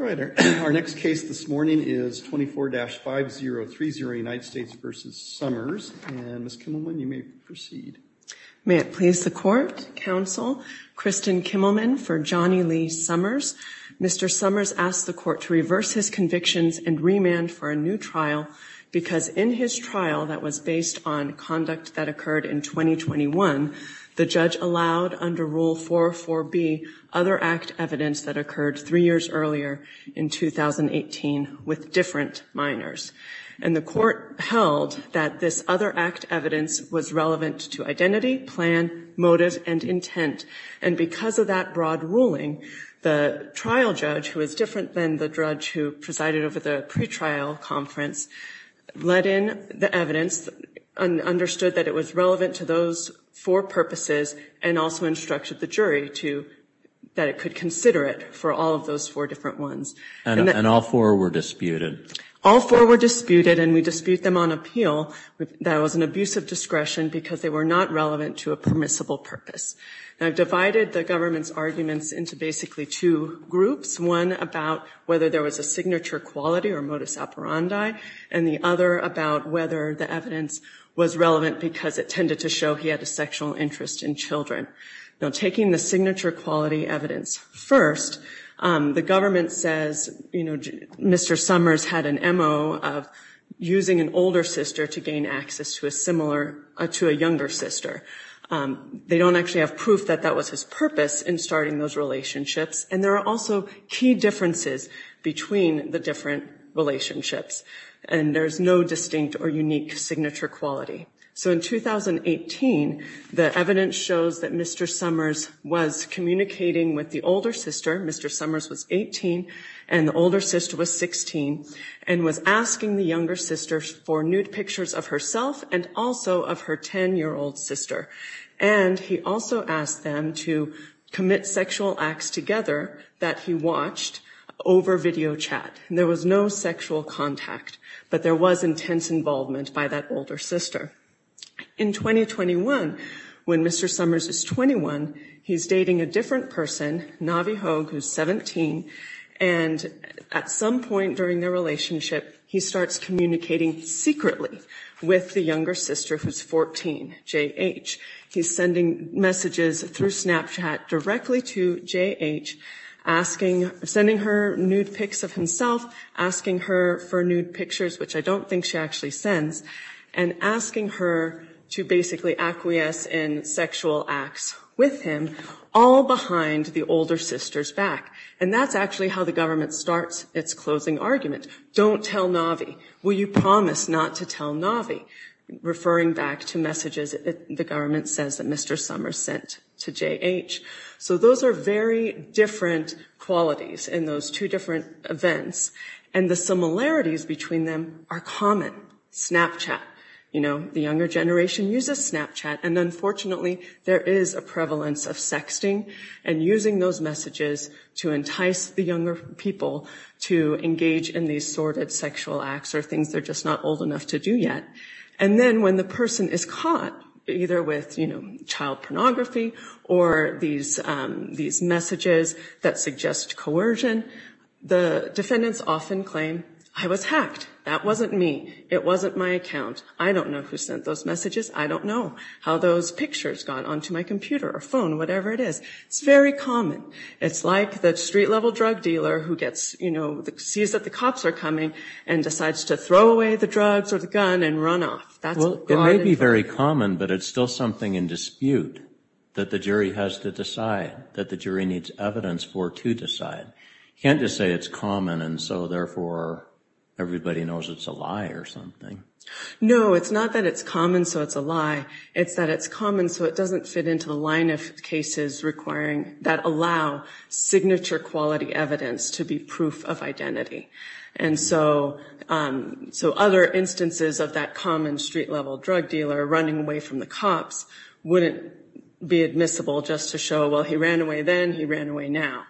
Our next case this morning is 24-5030 United States v. Summers and Ms. Kimmelman, you may proceed. May it please the court, counsel, Kristen Kimmelman for Johnny Lee Summers. Mr. Summers asked the court to reverse his convictions and remand for a new trial because in his trial that was based on conduct that occurred in 2021, the judge allowed under Rule 404B other act evidence that occurred three years earlier in 2018 with different minors. And the court held that this other act evidence was relevant to identity, plan, motive, and intent. And because of that broad ruling, the trial judge, who was different than the judge who presided over the pretrial conference, let in the evidence and understood that it was relevant to those four purposes and also instructed the jury that it could consider it for all of those four different ones. And all four were disputed? All four were disputed and we dispute them on appeal. That was an abuse of discretion because they were not relevant to a permissible purpose. Now, I've divided the government's arguments into basically two groups, one about whether there was a signature quality or modus operandi, and the other about whether the evidence was relevant because it tended to show he had a sexual interest in children. Now, taking the signature quality evidence first, the government says, you know, Mr. Summers had an MO of using an older sister to gain access to a similar, to a younger sister. They don't actually have proof that that was his purpose in starting those relationships. And there are also key differences between the different relationships. And there's no distinct or unique signature quality. So in 2018, the evidence shows that Mr. Summers was communicating with the older sister. Mr. Summers was 18 and the older sister was 16 and was asking the younger sister for nude pictures of herself and also of her 10-year-old sister. And he also asked them to commit sexual acts together that he watched over video chat. There was no sexual contact, but there was intense involvement by that older sister. In 2021, when Mr. Summers is 21, he's dating a different person, Navi Hogue, who's 17. And at some point during their relationship, he starts communicating secretly with the younger sister, who's 14, J.H. He's sending messages through Snapchat directly to J.H., asking, sending her nude pics of himself, asking her for nude pictures, which I don't think she actually sends, and asking her to basically acquiesce in sexual acts with him, all behind the older sister's back. And that's actually how the government starts its closing argument. Don't tell Navi. Will you promise not to tell Navi? Referring back to messages that the government says that Mr. Summers sent to J.H. So those are very different qualities in those two different events. And the similarities between them are common. Snapchat, you know, the younger generation uses Snapchat. And unfortunately, there is a prevalence of sexting and using those messages to entice the younger people to engage in these sordid sexual acts or things they're just not old enough to do yet. And then when the person is caught, either with, you know, child pornography or these messages that suggest coercion, the defendants often claim, I was hacked. That wasn't me. It wasn't my account. I don't know who sent those messages. I don't know how those pictures got onto my computer or phone, whatever it is. It's very common. It's like the street-level drug dealer who gets, you know, sees that the cops are coming and decides to throw away the drugs or the gun and run off. That's a common thing. Well, it may be very common, but it's still something in dispute that the jury has to decide, that the jury needs evidence for to decide. You can't just say it's common and so therefore everybody knows it's a lie or something. No, it's not that it's common so it's a lie. It's that it's common so it doesn't fit into the line of cases requiring, that allow signature-quality evidence to be proof of identity. And so other instances of that common street-level drug dealer running away from the cops wouldn't be admissible just to show, well, he ran away then, he ran away now.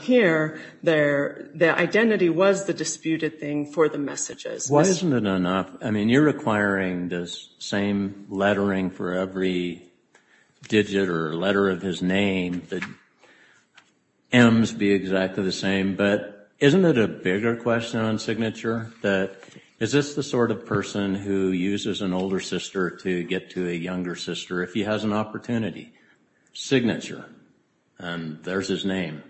Here, the identity was the disputed thing for the messages. Why isn't it enough? I mean, you're requiring the same lettering for every digit or letter of his name, the M's be exactly the same, but isn't it a bigger question on signature, that is this the sort of person who uses an older sister to get to a younger sister if he has an opportunity? Signature, and there's his name.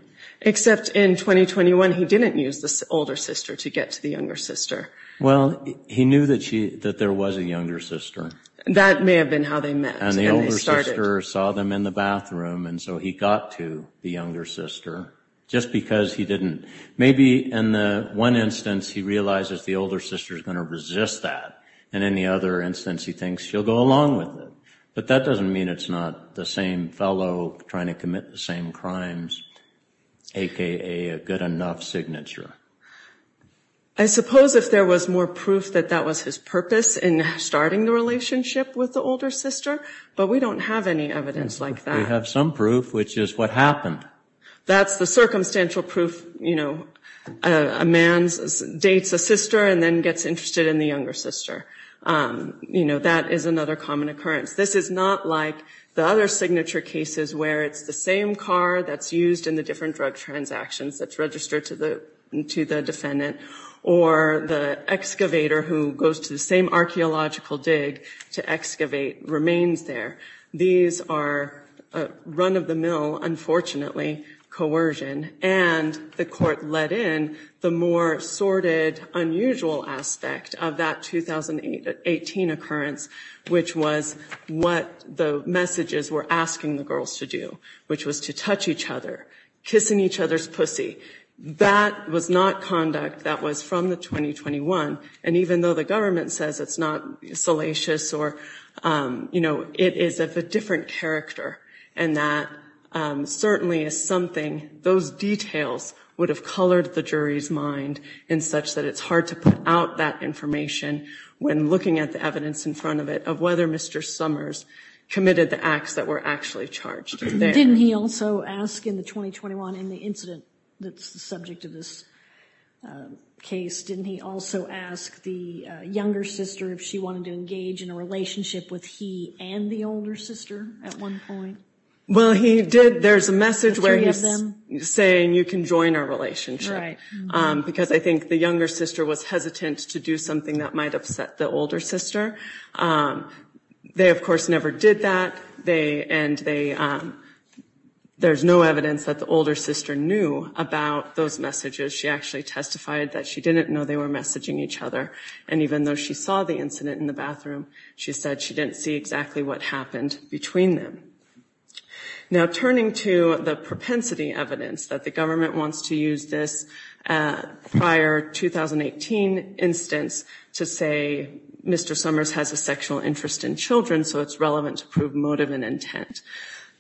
Except in 2021 he didn't use the older sister to get to the younger sister. Well, he knew that there was a younger sister. That may have been how they met. And the older sister saw them in the bathroom and so he got to the younger sister just because he didn't. Maybe in one instance he realizes the older sister is going to resist that and in the other instance he thinks she'll go along with it. But that doesn't mean it's not the same fellow trying to commit the same crimes, a.k.a. a good enough signature. I suppose if there was more proof that that was his purpose in starting the relationship with the older sister, but we don't have any evidence like that. We have some proof, which is what happened. That's the circumstantial proof, you know, a man dates a sister and then gets interested in the younger sister. You know, that is another common occurrence. This is not like the other signature cases where it's the same car that's used in the different drug transactions that's registered to the defendant or the excavator who goes to the same archaeological dig to excavate remains there. These are run-of-the-mill, unfortunately, coercion. And the court let in the more sordid, unusual aspect of that 2018 occurrence, which was what the messages were asking the girls to do, which was to touch each other, kissing each other's pussy. That was not conduct that was from the 2021. And even though the government says it's not salacious or, you know, it is of a different character, and that certainly is something those details would have colored the jury's mind in such that it's hard to put out that information when looking at the evidence in front of it, of whether Mr. Summers committed the acts that were actually charged there. Didn't he also ask in the 2021, in the incident that's the subject of this case, didn't he also ask the younger sister if she wanted to engage in a relationship with he and the older sister at one point? Well, he did. There's a message where he's saying you can join our relationship. Right. Because I think the younger sister was hesitant to do something that might upset the older sister. They, of course, never did that. And there's no evidence that the older sister knew about those messages. She actually testified that she didn't know they were messaging each other. And even though she saw the incident in the bathroom, she said she didn't see exactly what happened between them. Now, turning to the propensity evidence, that the government wants to use this prior 2018 instance to say Mr. Summers has a sexual interest in children, so it's relevant to prove motive and intent.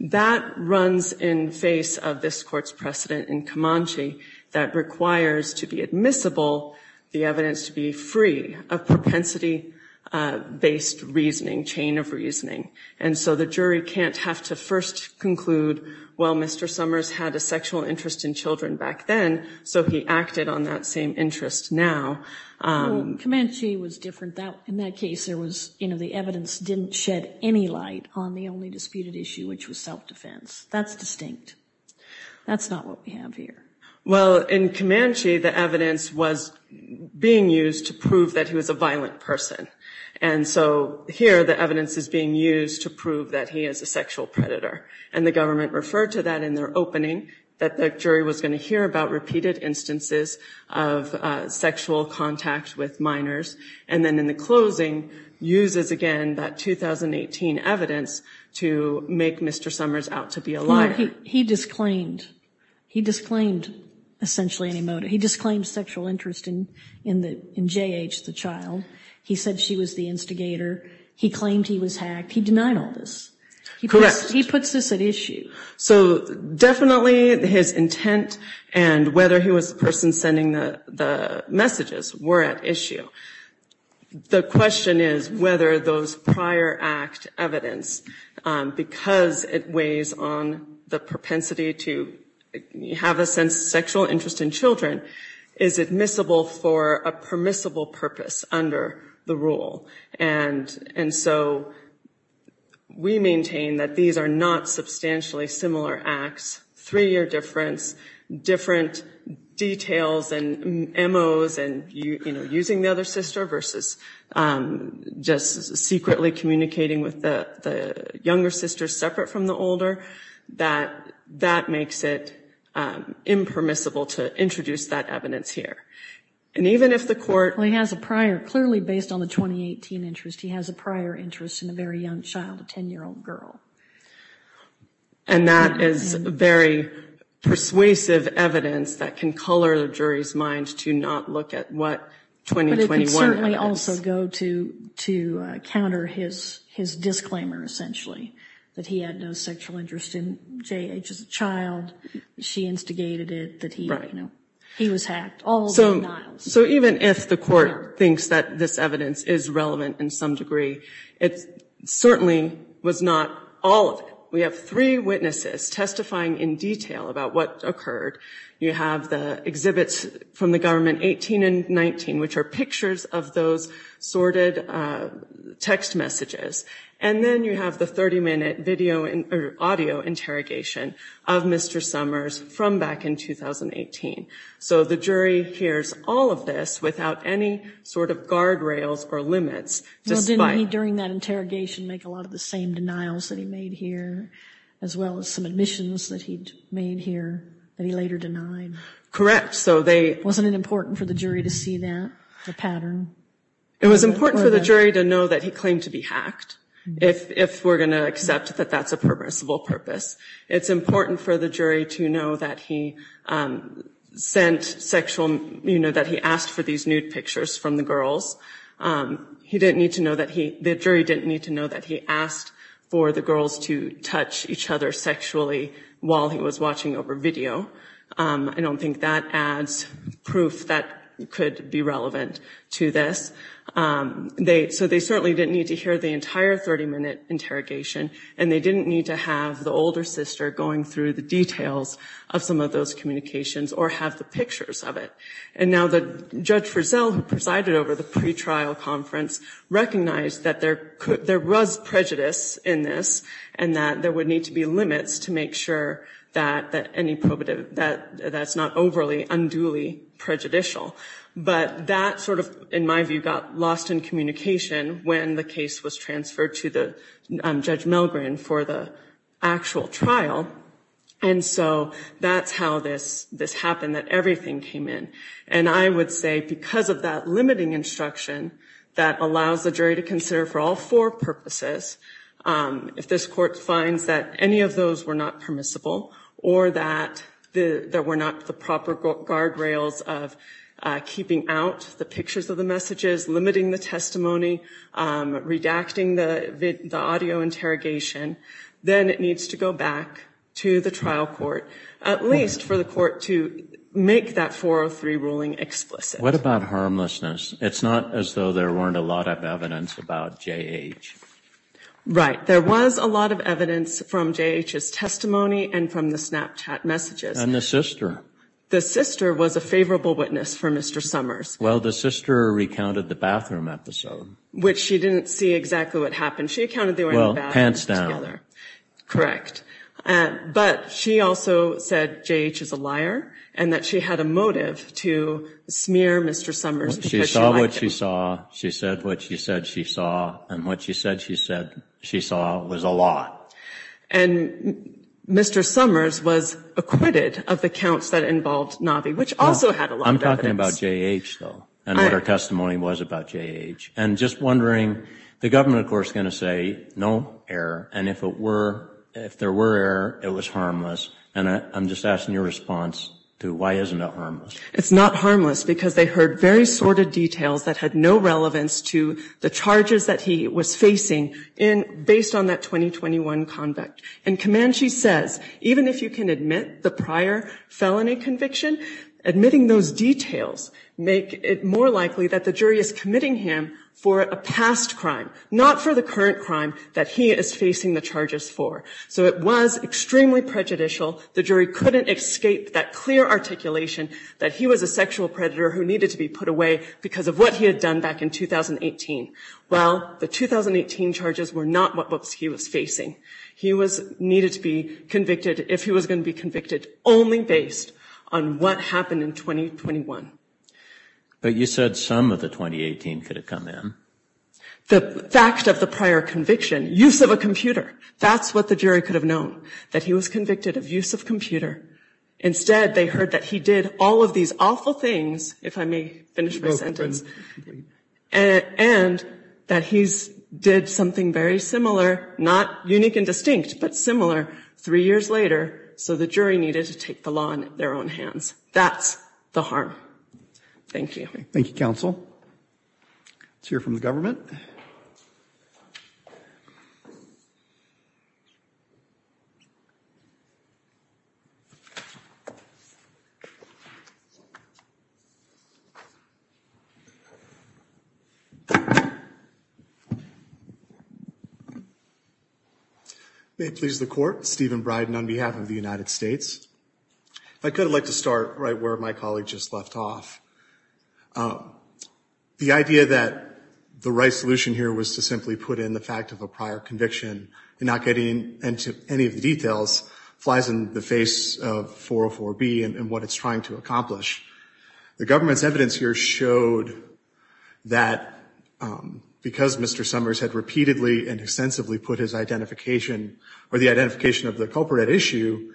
That runs in face of this court's precedent in Comanche that requires to be admissible, the evidence to be free of propensity-based reasoning, chain of reasoning. And so the jury can't have to first conclude, well, Mr. Summers had a sexual interest in children back then, so he acted on that same interest now. Comanche was different. In that case, there was, you know, the evidence didn't shed any light on the only disputed issue, which was self-defense. That's distinct. That's not what we have here. Well, in Comanche, the evidence was being used to prove that he was a violent person. And so here, the evidence is being used to prove that he is a sexual predator. And the government referred to that in their opening, that the jury was going to hear about repeated instances of sexual contact with minors. And then in the closing, uses again that 2018 evidence to make Mr. Summers out to be a liar. No, he disclaimed. He disclaimed essentially any motive. He disclaimed sexual interest in J.H., the child. He said she was the instigator. He claimed he was hacked. He denied all this. Correct. He puts this at issue. So definitely his intent and whether he was the person sending the messages were at issue. The question is whether those prior act evidence, because it weighs on the propensity to have a sexual interest in children, is admissible for a permissible purpose under the rule. And so we maintain that these are not substantially similar acts, three-year difference, different details and M.O.s and, you know, using the other sister versus just secretly communicating with the younger sister separate from the older. That makes it impermissible to introduce that evidence here. And even if the court- Well, he has a prior, clearly based on the 2018 interest, he has a prior interest in a very young child, a 10-year-old girl. And that is very persuasive evidence that can color the jury's mind to not look at what 2021 is. But it can certainly also go to counter his disclaimer, essentially, that he had no sexual interest in J.H. as a child. She instigated it, that he was hacked. All denials. So even if the court thinks that this evidence is relevant in some degree, it certainly was not all of it. We have three witnesses testifying in detail about what occurred. You have the exhibits from the government, 18 and 19, which are pictures of those sorted text messages. And then you have the 30-minute video or audio interrogation of Mr. Summers from back in 2018. So the jury hears all of this without any sort of guardrails or limits. Well, didn't he, during that interrogation, make a lot of the same denials that he made here, as well as some admissions that he made here that he later denied? Correct. Wasn't it important for the jury to see that, the pattern? It was important for the jury to know that he claimed to be hacked, if we're going to accept that that's a permissible purpose. It's important for the jury to know that he sent sexual, you know, that he asked for these nude pictures from the girls. He didn't need to know that he, the jury didn't need to know that he asked for the girls to touch each other sexually while he was watching over video. I don't think that adds proof that could be relevant to this. So they certainly didn't need to hear the entire 30-minute interrogation, and they didn't need to have the older sister going through the details of some of those communications or have the pictures of it. And now the Judge Frizzell, who presided over the pretrial conference, recognized that there was prejudice in this, and that there would need to be limits to make sure that any probative, that that's not overly, unduly prejudicial. But that sort of, in my view, got lost in communication when the case was transferred to the Judge Melgren for the actual trial. And so that's how this happened, that everything came in. And I would say because of that limiting instruction that allows the jury to consider for all four purposes, if this court finds that any of those were not permissible or that there were not the proper guardrails of keeping out the pictures of the messages, limiting the testimony, redacting the audio interrogation, then it needs to go back to the trial court, at least for the court to make that 403 ruling explicit. What about harmlessness? It's not as though there weren't a lot of evidence about J.H. Right. There was a lot of evidence from J.H.'s testimony and from the Snapchat messages. And the sister? The sister was a favorable witness for Mr. Summers. Well, the sister recounted the bathroom episode. Which she didn't see exactly what happened. Well, pants down. But she also said J.H. is a liar and that she had a motive to smear Mr. Summers. She saw what she saw. She said what she said she saw. And what she said she saw was a lot. And Mr. Summers was acquitted of the counts that involved Navi, which also had a lot of evidence. I'm talking about J.H., though, and what her testimony was about J.H. And just wondering, the government, of course, is going to say no error. And if there were error, it was harmless. And I'm just asking your response to why isn't it harmless. It's not harmless because they heard very sordid details that had no relevance to the charges that he was facing based on that 2021 convict. And Comanche says, even if you can admit the prior felony conviction, admitting those details make it more likely that the jury is committing him for a past crime, not for the current crime that he is facing the charges for. So it was extremely prejudicial. The jury couldn't escape that clear articulation that he was a sexual predator who needed to be put away because of what he had done back in 2018. Well, the 2018 charges were not what he was facing. He was needed to be convicted if he was going to be convicted only based on what happened in 2021. But you said some of the 2018 could have come in. The fact of the prior conviction, use of a computer, that's what the jury could have known, that he was convicted of use of computer. Instead, they heard that he did all of these awful things, if I may finish my sentence, and that he's did something very similar, not unique and distinct, but similar three years later. So the jury needed to take the law in their own hands. That's the harm. Thank you. Thank you, counsel. Let's hear from the government. May it please the court. Stephen Bryden on behalf of the United States. If I could, I'd like to start right where my colleague just left off. The idea that the right solution here was to simply put in the fact of a prior conviction, and not getting into any of the details, flies in the face of 404B and what it's trying to accomplish. The government's evidence here showed that because Mr. Summers had repeatedly and extensively put his identification or the identification of the culprit at issue,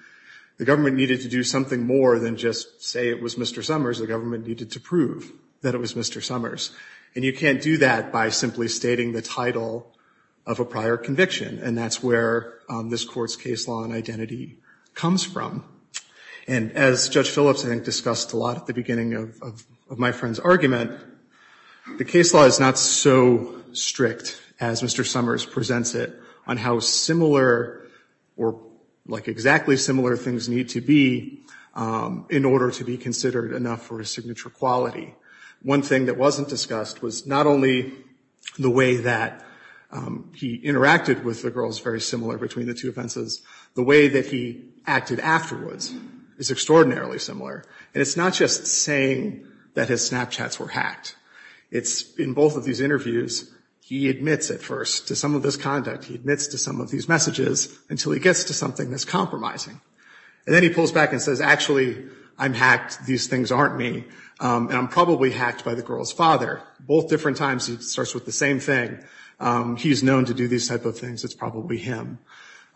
the government needed to do something more than just say it was Mr. Summers. The government needed to prove that it was Mr. Summers. And you can't do that by simply stating the title of a prior conviction. And that's where this court's case law and identity comes from. And as Judge Phillips, I think, discussed a lot at the beginning of my friend's argument, the case law is not so strict as Mr. Summers presents it on how similar or like exactly similar things need to be in order to be considered enough for a signature quality. One thing that wasn't discussed was not only the way that he interacted with the girls, very similar between the two offenses, the way that he acted afterwards is extraordinarily similar. And it's not just saying that his Snapchats were hacked. It's in both of these interviews, he admits at first to some of this conduct. He admits to some of these messages until he gets to something that's compromising. And then he pulls back and says, actually, I'm hacked. These things aren't me. And I'm probably hacked by the girl's father. Both different times he starts with the same thing. He's known to do these type of things. It's probably him.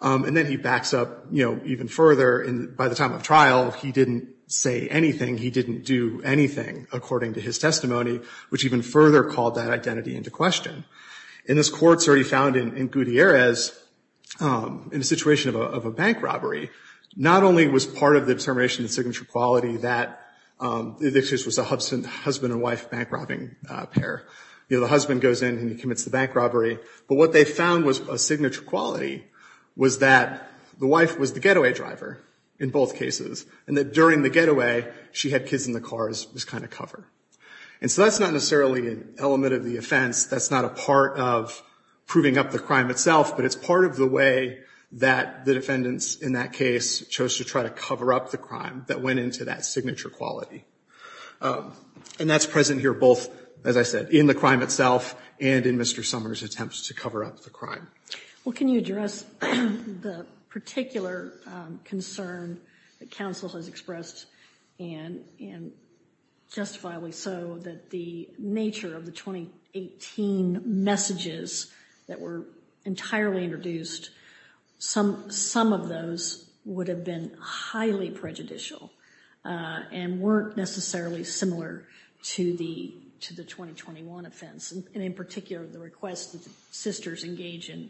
And then he backs up, you know, even further. And by the time of trial, he didn't say anything. He didn't do anything, according to his testimony, which even further called that identity into question. And this court certainly found in Gutierrez, in a situation of a bank robbery, not only was part of the determination of signature quality that this was a husband and wife bank robbing pair. You know, the husband goes in and he commits the bank robbery. But what they found was a signature quality was that the wife was the getaway driver in both cases. And that during the getaway, she had kids in the cars, this kind of cover. And so that's not necessarily an element of the offense. That's not a part of proving up the crime itself. But it's part of the way that the defendants in that case chose to try to cover up the crime that went into that signature quality. And that's present here both, as I said, in the crime itself and in Mr. Summers' attempts to cover up the crime. Well, can you address the particular concern that counsel has expressed, and justifiably so, that the nature of the 2018 messages that were entirely introduced, some of those would have been highly prejudicial and weren't necessarily similar to the 2021 offense. And in particular, the request that the sisters engage in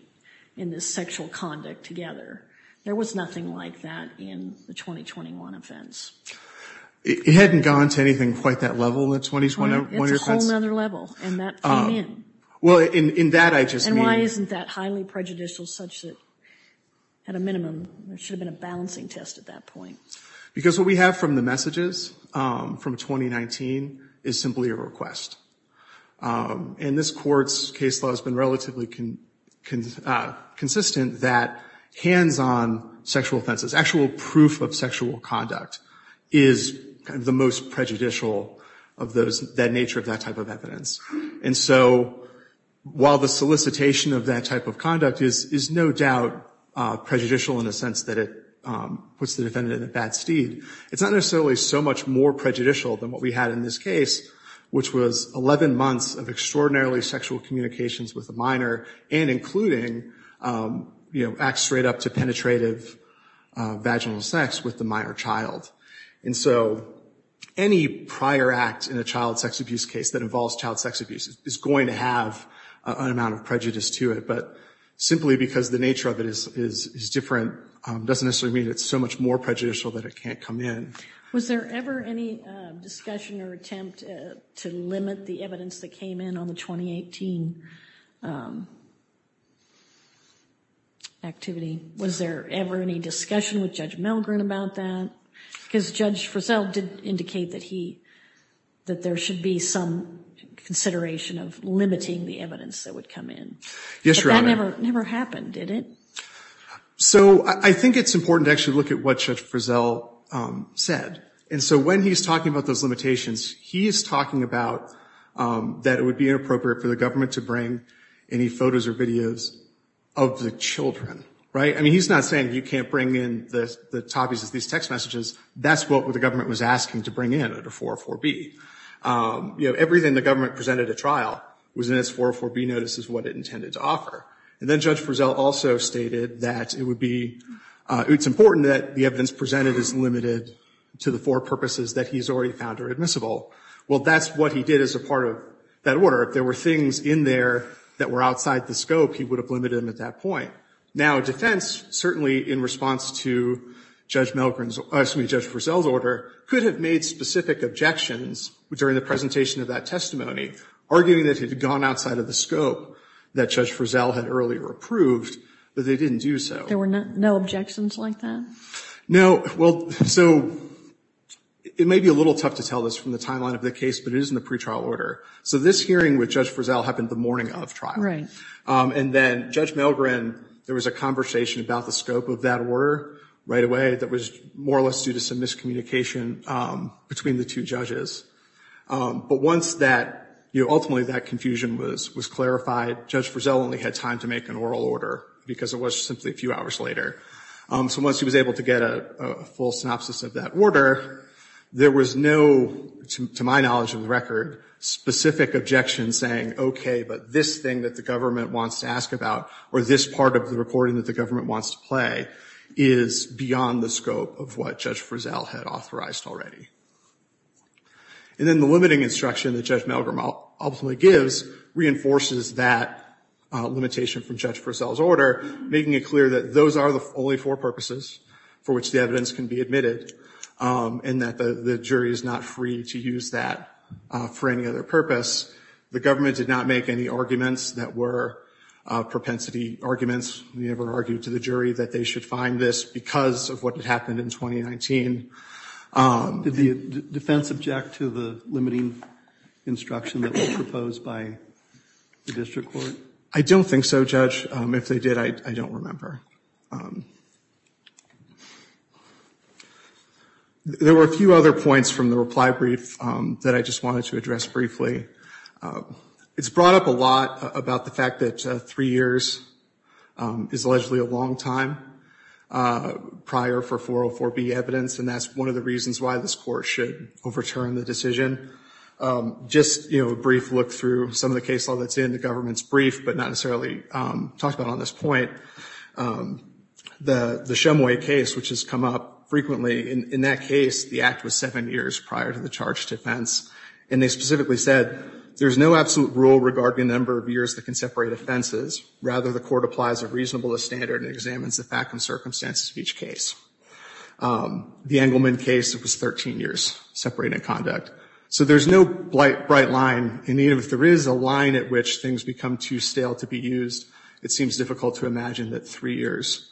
this sexual conduct together. There was nothing like that in the 2021 offense. It hadn't gone to anything quite that level in the 2021 offense. It's a whole other level, and that came in. Well, in that I just mean. And why isn't that highly prejudicial such that, at a minimum, there should have been a balancing test at that point? Because what we have from the messages from 2019 is simply a request. And this Court's case law has been relatively consistent that hands-on sexual offenses, actual proof of sexual conduct, is the most prejudicial of that nature of that type of evidence. And so while the solicitation of that type of conduct is no doubt prejudicial in a sense that it puts the defendant in a bad steed, it's not necessarily so much more prejudicial than what we had in this case, which was 11 months of extraordinarily sexual communications with a minor and including, you know, acts straight up to penetrative vaginal sex with the minor child. And so any prior act in a child sex abuse case that involves child sex abuse is going to have an amount of prejudice to it. But simply because the nature of it is different doesn't necessarily mean it's so much more prejudicial that it can't come in. Was there ever any discussion or attempt to limit the evidence that came in on the 2018 activity? Was there ever any discussion with Judge Milgren about that? Because Judge Frizzell did indicate that there should be some consideration of limiting the evidence that would come in. Yes, Your Honor. But that never happened, did it? So I think it's important to actually look at what Judge Frizzell said. And so when he's talking about those limitations, he is talking about that it would be inappropriate for the government to bring any photos or videos of the children, right? I mean, he's not saying you can't bring in the topics of these text messages. That's what the government was asking to bring in under 404B. You know, everything the government presented at trial was in its 404B notices, what it intended to offer. And then Judge Frizzell also stated that it would be, it's important that the evidence presented is limited to the four purposes that he's already found are admissible. Well, that's what he did as a part of that order. If there were things in there that were outside the scope, he would have limited them at that point. Now, defense, certainly in response to Judge Milgren's, excuse me, Judge Frizzell's order, could have made specific objections during the presentation of that testimony, arguing that it had gone outside of the scope that Judge Frizzell had earlier approved, but they didn't do so. There were no objections like that? Well, so it may be a little tough to tell this from the timeline of the case, but it is in the pretrial order. So this hearing with Judge Frizzell happened the morning of trial. And then Judge Milgren, there was a conversation about the scope of that order right away that was more or less due to some miscommunication between the two judges. But once that, you know, ultimately that confusion was clarified, Judge Frizzell only had time to make an oral order because it was simply a few hours later. So once he was able to get a full synopsis of that order, there was no, to my knowledge of the record, specific objection saying, okay, but this thing that the government wants to ask about or this part of the recording that the government wants to play is beyond the scope of what Judge Frizzell had authorized already. And then the limiting instruction that Judge Milgren ultimately gives reinforces that limitation from Judge Frizzell's order, making it clear that those are the only four purposes for which the evidence can be admitted and that the jury is not free to use that for any other purpose. The government did not make any arguments that were propensity arguments. We never argued to the jury that they should find this because of what had happened in 2019. Did the defense object to the limiting instruction that was proposed by the district court? I don't think so, Judge. If they did, I don't remember. There were a few other points from the reply brief that I just wanted to address briefly. It's brought up a lot about the fact that three years is allegedly a long time prior for 404B evidence, and that's one of the reasons why this court should overturn the decision. Just, you know, a brief look through some of the case law that's in the government's brief, but not necessarily talked about on this point. The Shumway case, which has come up frequently, in that case, the act was seven years prior to the charged offense, and they specifically said, there's no absolute rule regarding the number of years that can separate offenses. Rather, the court applies a reasonableness standard and examines the fact and circumstances of each case. The Engelman case, it was 13 years separating conduct. So there's no bright line. If there is a line at which things become too stale to be used, it seems difficult to imagine that three years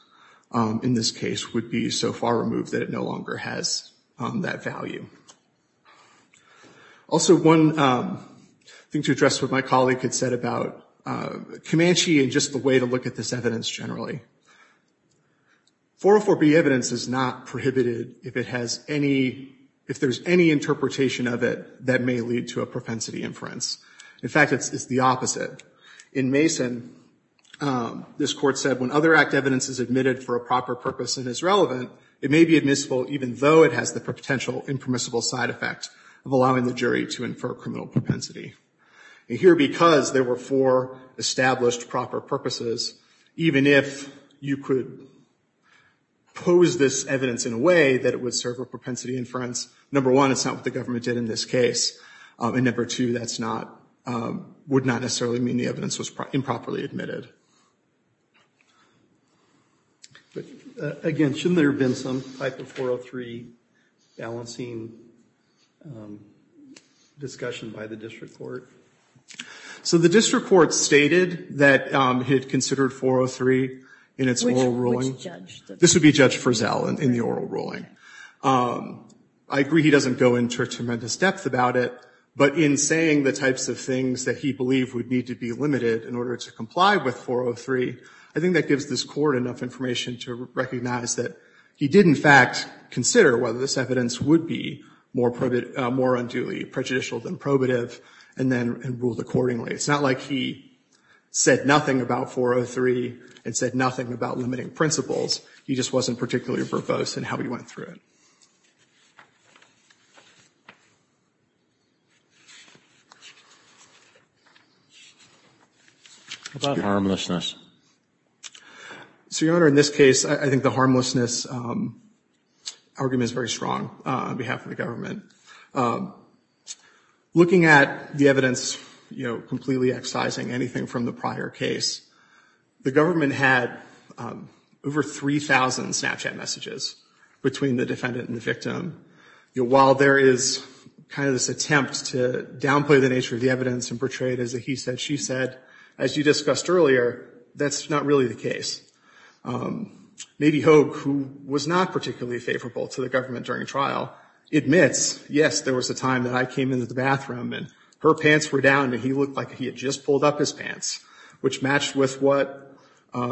in this case would be so far removed that it no longer has that value. Also, one thing to address what my colleague had said about Comanche and just the way to look at this evidence generally. 404B evidence is not prohibited if it has any, if there's any interpretation of it that may lead to a propensity inference. In fact, it's the opposite. In Mason, this court said when other act evidence is admitted for a proper purpose and is relevant, it may be admissible even though it has the potential impermissible side effect of allowing the jury to infer criminal propensity. And here, because there were four established proper purposes, even if you could pose this evidence in a way that it would serve a propensity inference, number one, it's not what the government did in this case. And number two, that's not, would not necessarily mean the evidence was improperly admitted. Again, shouldn't there have been some type of 403 balancing discussion by the district court? So the district court stated that it considered 403 in its oral ruling. Which judge? This would be Judge Frizzell in the oral ruling. I agree he doesn't go into a tremendous depth about it, but in saying the types of things that he believed would need to be limited in order to comply with 403, I think that gives this court enough information to recognize that he did, in fact, consider whether this evidence would be more unduly prejudicial than probative, and then ruled accordingly. It's not like he said nothing about 403 and said nothing about limiting principles. He just wasn't particularly verbose in how he went through it. What about harmlessness? So, Your Honor, in this case, I think the harmlessness argument is very strong on behalf of the government. Looking at the evidence, you know, completely excising anything from the prior case, the government had over 3,000 Snapchat messages between the defendant and the victim. While there is kind of this attempt to downplay the nature of the evidence and portray it as a he said, she said, as you discussed earlier, that's not really the case. Nady Hogue, who was not particularly favorable to the government during trial, admits, yes, there was a time that I came into the bathroom and her pants were down and he looked like he had just pulled up his pants, which matched with what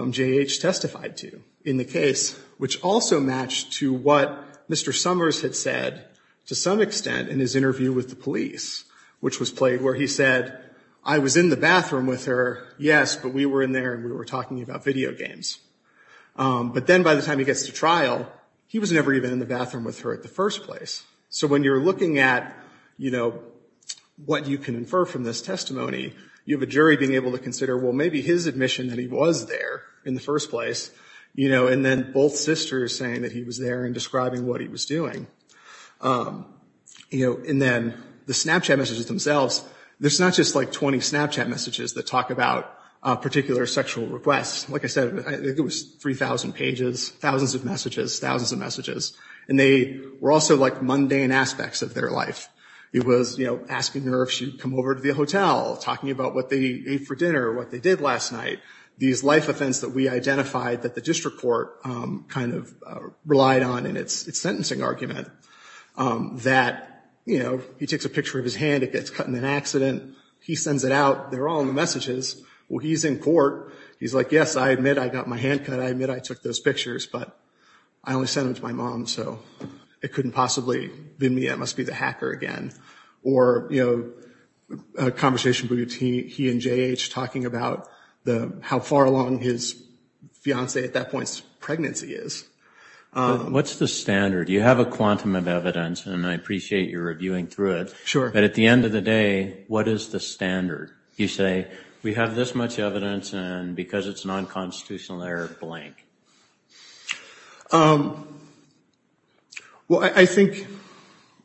J.H. testified to in the case, which also matched to what Mr. Summers had said to some extent in his interview with the police, which was played where he said, I was in the bathroom with her, yes, but we were in there and we were talking about video games. But then by the time he gets to trial, he was never even in the bathroom with her in the first place. So when you're looking at, you know, what you can infer from this testimony, you have a jury being able to consider, well, maybe his admission that he was there in the first place, you know, and then both sisters saying that he was there and describing what he was doing. You know, and then the Snapchat messages themselves, there's not just like 20 Snapchat messages that talk about particular sexual requests. Like I said, it was 3,000 pages, thousands of messages, thousands of messages. And they were also like mundane aspects of their life. It was, you know, asking her if she'd come over to the hotel, talking about what they ate for dinner, what they did last night, these life offense that we identified that the district court kind of relied on in its sentencing argument that, you know, he takes a picture of his hand, it gets cut in an accident, he sends it out, they're all in the messages. Well, he's in court, he's like, yes, I admit I got my hand cut, I admit I took those pictures, but I only sent them to my mom, so it couldn't possibly be me. It must be the hacker again. Or, you know, a conversation between he and J.H. talking about how far along his fiancee at that point's pregnancy is. What's the standard? You have a quantum of evidence, and I appreciate your reviewing through it. Sure. But at the end of the day, what is the standard? You say, we have this much evidence, and because it's non-constitutional error, blank. Well, I think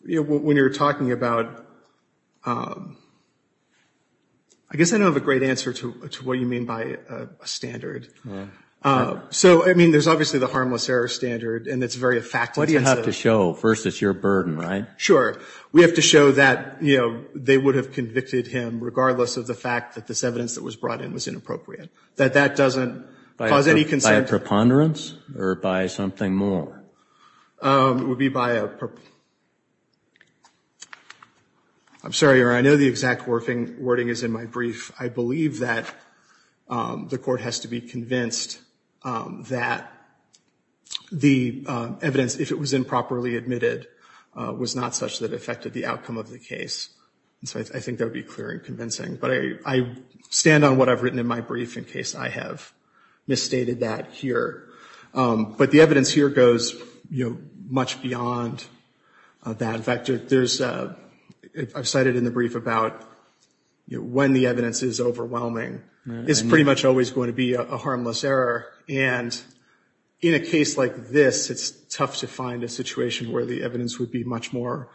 when you're talking about ‑‑ I guess I don't have a great answer to what you mean by a standard. So, I mean, there's obviously the harmless error standard, and it's very effective. What do you have to show? First, it's your burden, right? Sure. We have to show that, you know, they would have convicted him regardless of the fact that this evidence that was brought in was inappropriate, that that doesn't cause any concern. By a preponderance or by something more? It would be by a ‑‑ I'm sorry, Your Honor, I know the exact wording is in my brief. I believe that the court has to be convinced that the evidence, if it was improperly admitted, was not such that it affected the outcome of the case. And so I think that would be clear and convincing. But I stand on what I've written in my brief in case I have misstated that here. But the evidence here goes, you know, much beyond that. In fact, there's ‑‑ I've cited in the brief about when the evidence is overwhelming. It's pretty much always going to be a harmless error. And in a case like this, it's tough to find a situation where the evidence would be much more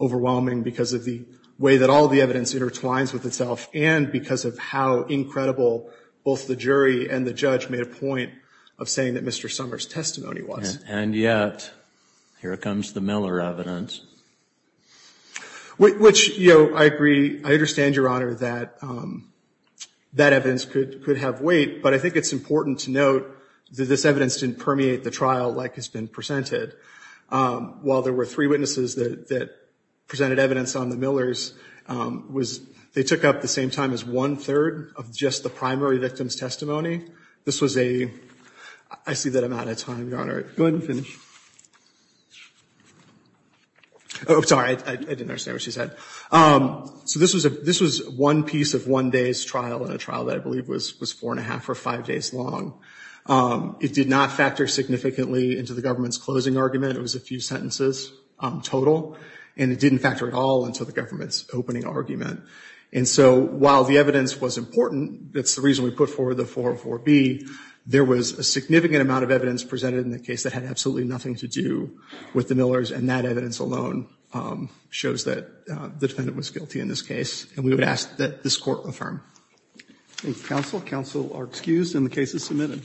overwhelming because of the way that all the evidence intertwines with itself and because of how incredible both the jury and the judge made a point of saying that Mr. Summers' testimony was. And yet, here comes the Miller evidence. Which, you know, I agree. I understand, Your Honor, that that evidence could have weight. But I think it's important to note that this evidence didn't permeate the trial like has been presented. While there were three witnesses that presented evidence on the Millers, they took up the same time as one‑third of just the primary victim's testimony. This was a ‑‑ I see that I'm out of time, Your Honor. Go ahead and finish. Sorry, I didn't understand what she said. So this was one piece of one day's trial in a trial that I believe was four and a half or five days long. It did not factor significantly into the government's closing argument. It was a few sentences total. And it didn't factor at all into the government's opening argument. And so while the evidence was important, that's the reason we put forward the 404B, there was a significant amount of evidence presented in the case that had absolutely nothing to do with the Millers. And that evidence alone shows that the defendant was guilty in this case. And we would ask that this court affirm. Thank you, counsel. Counsel are excused and the case is submitted.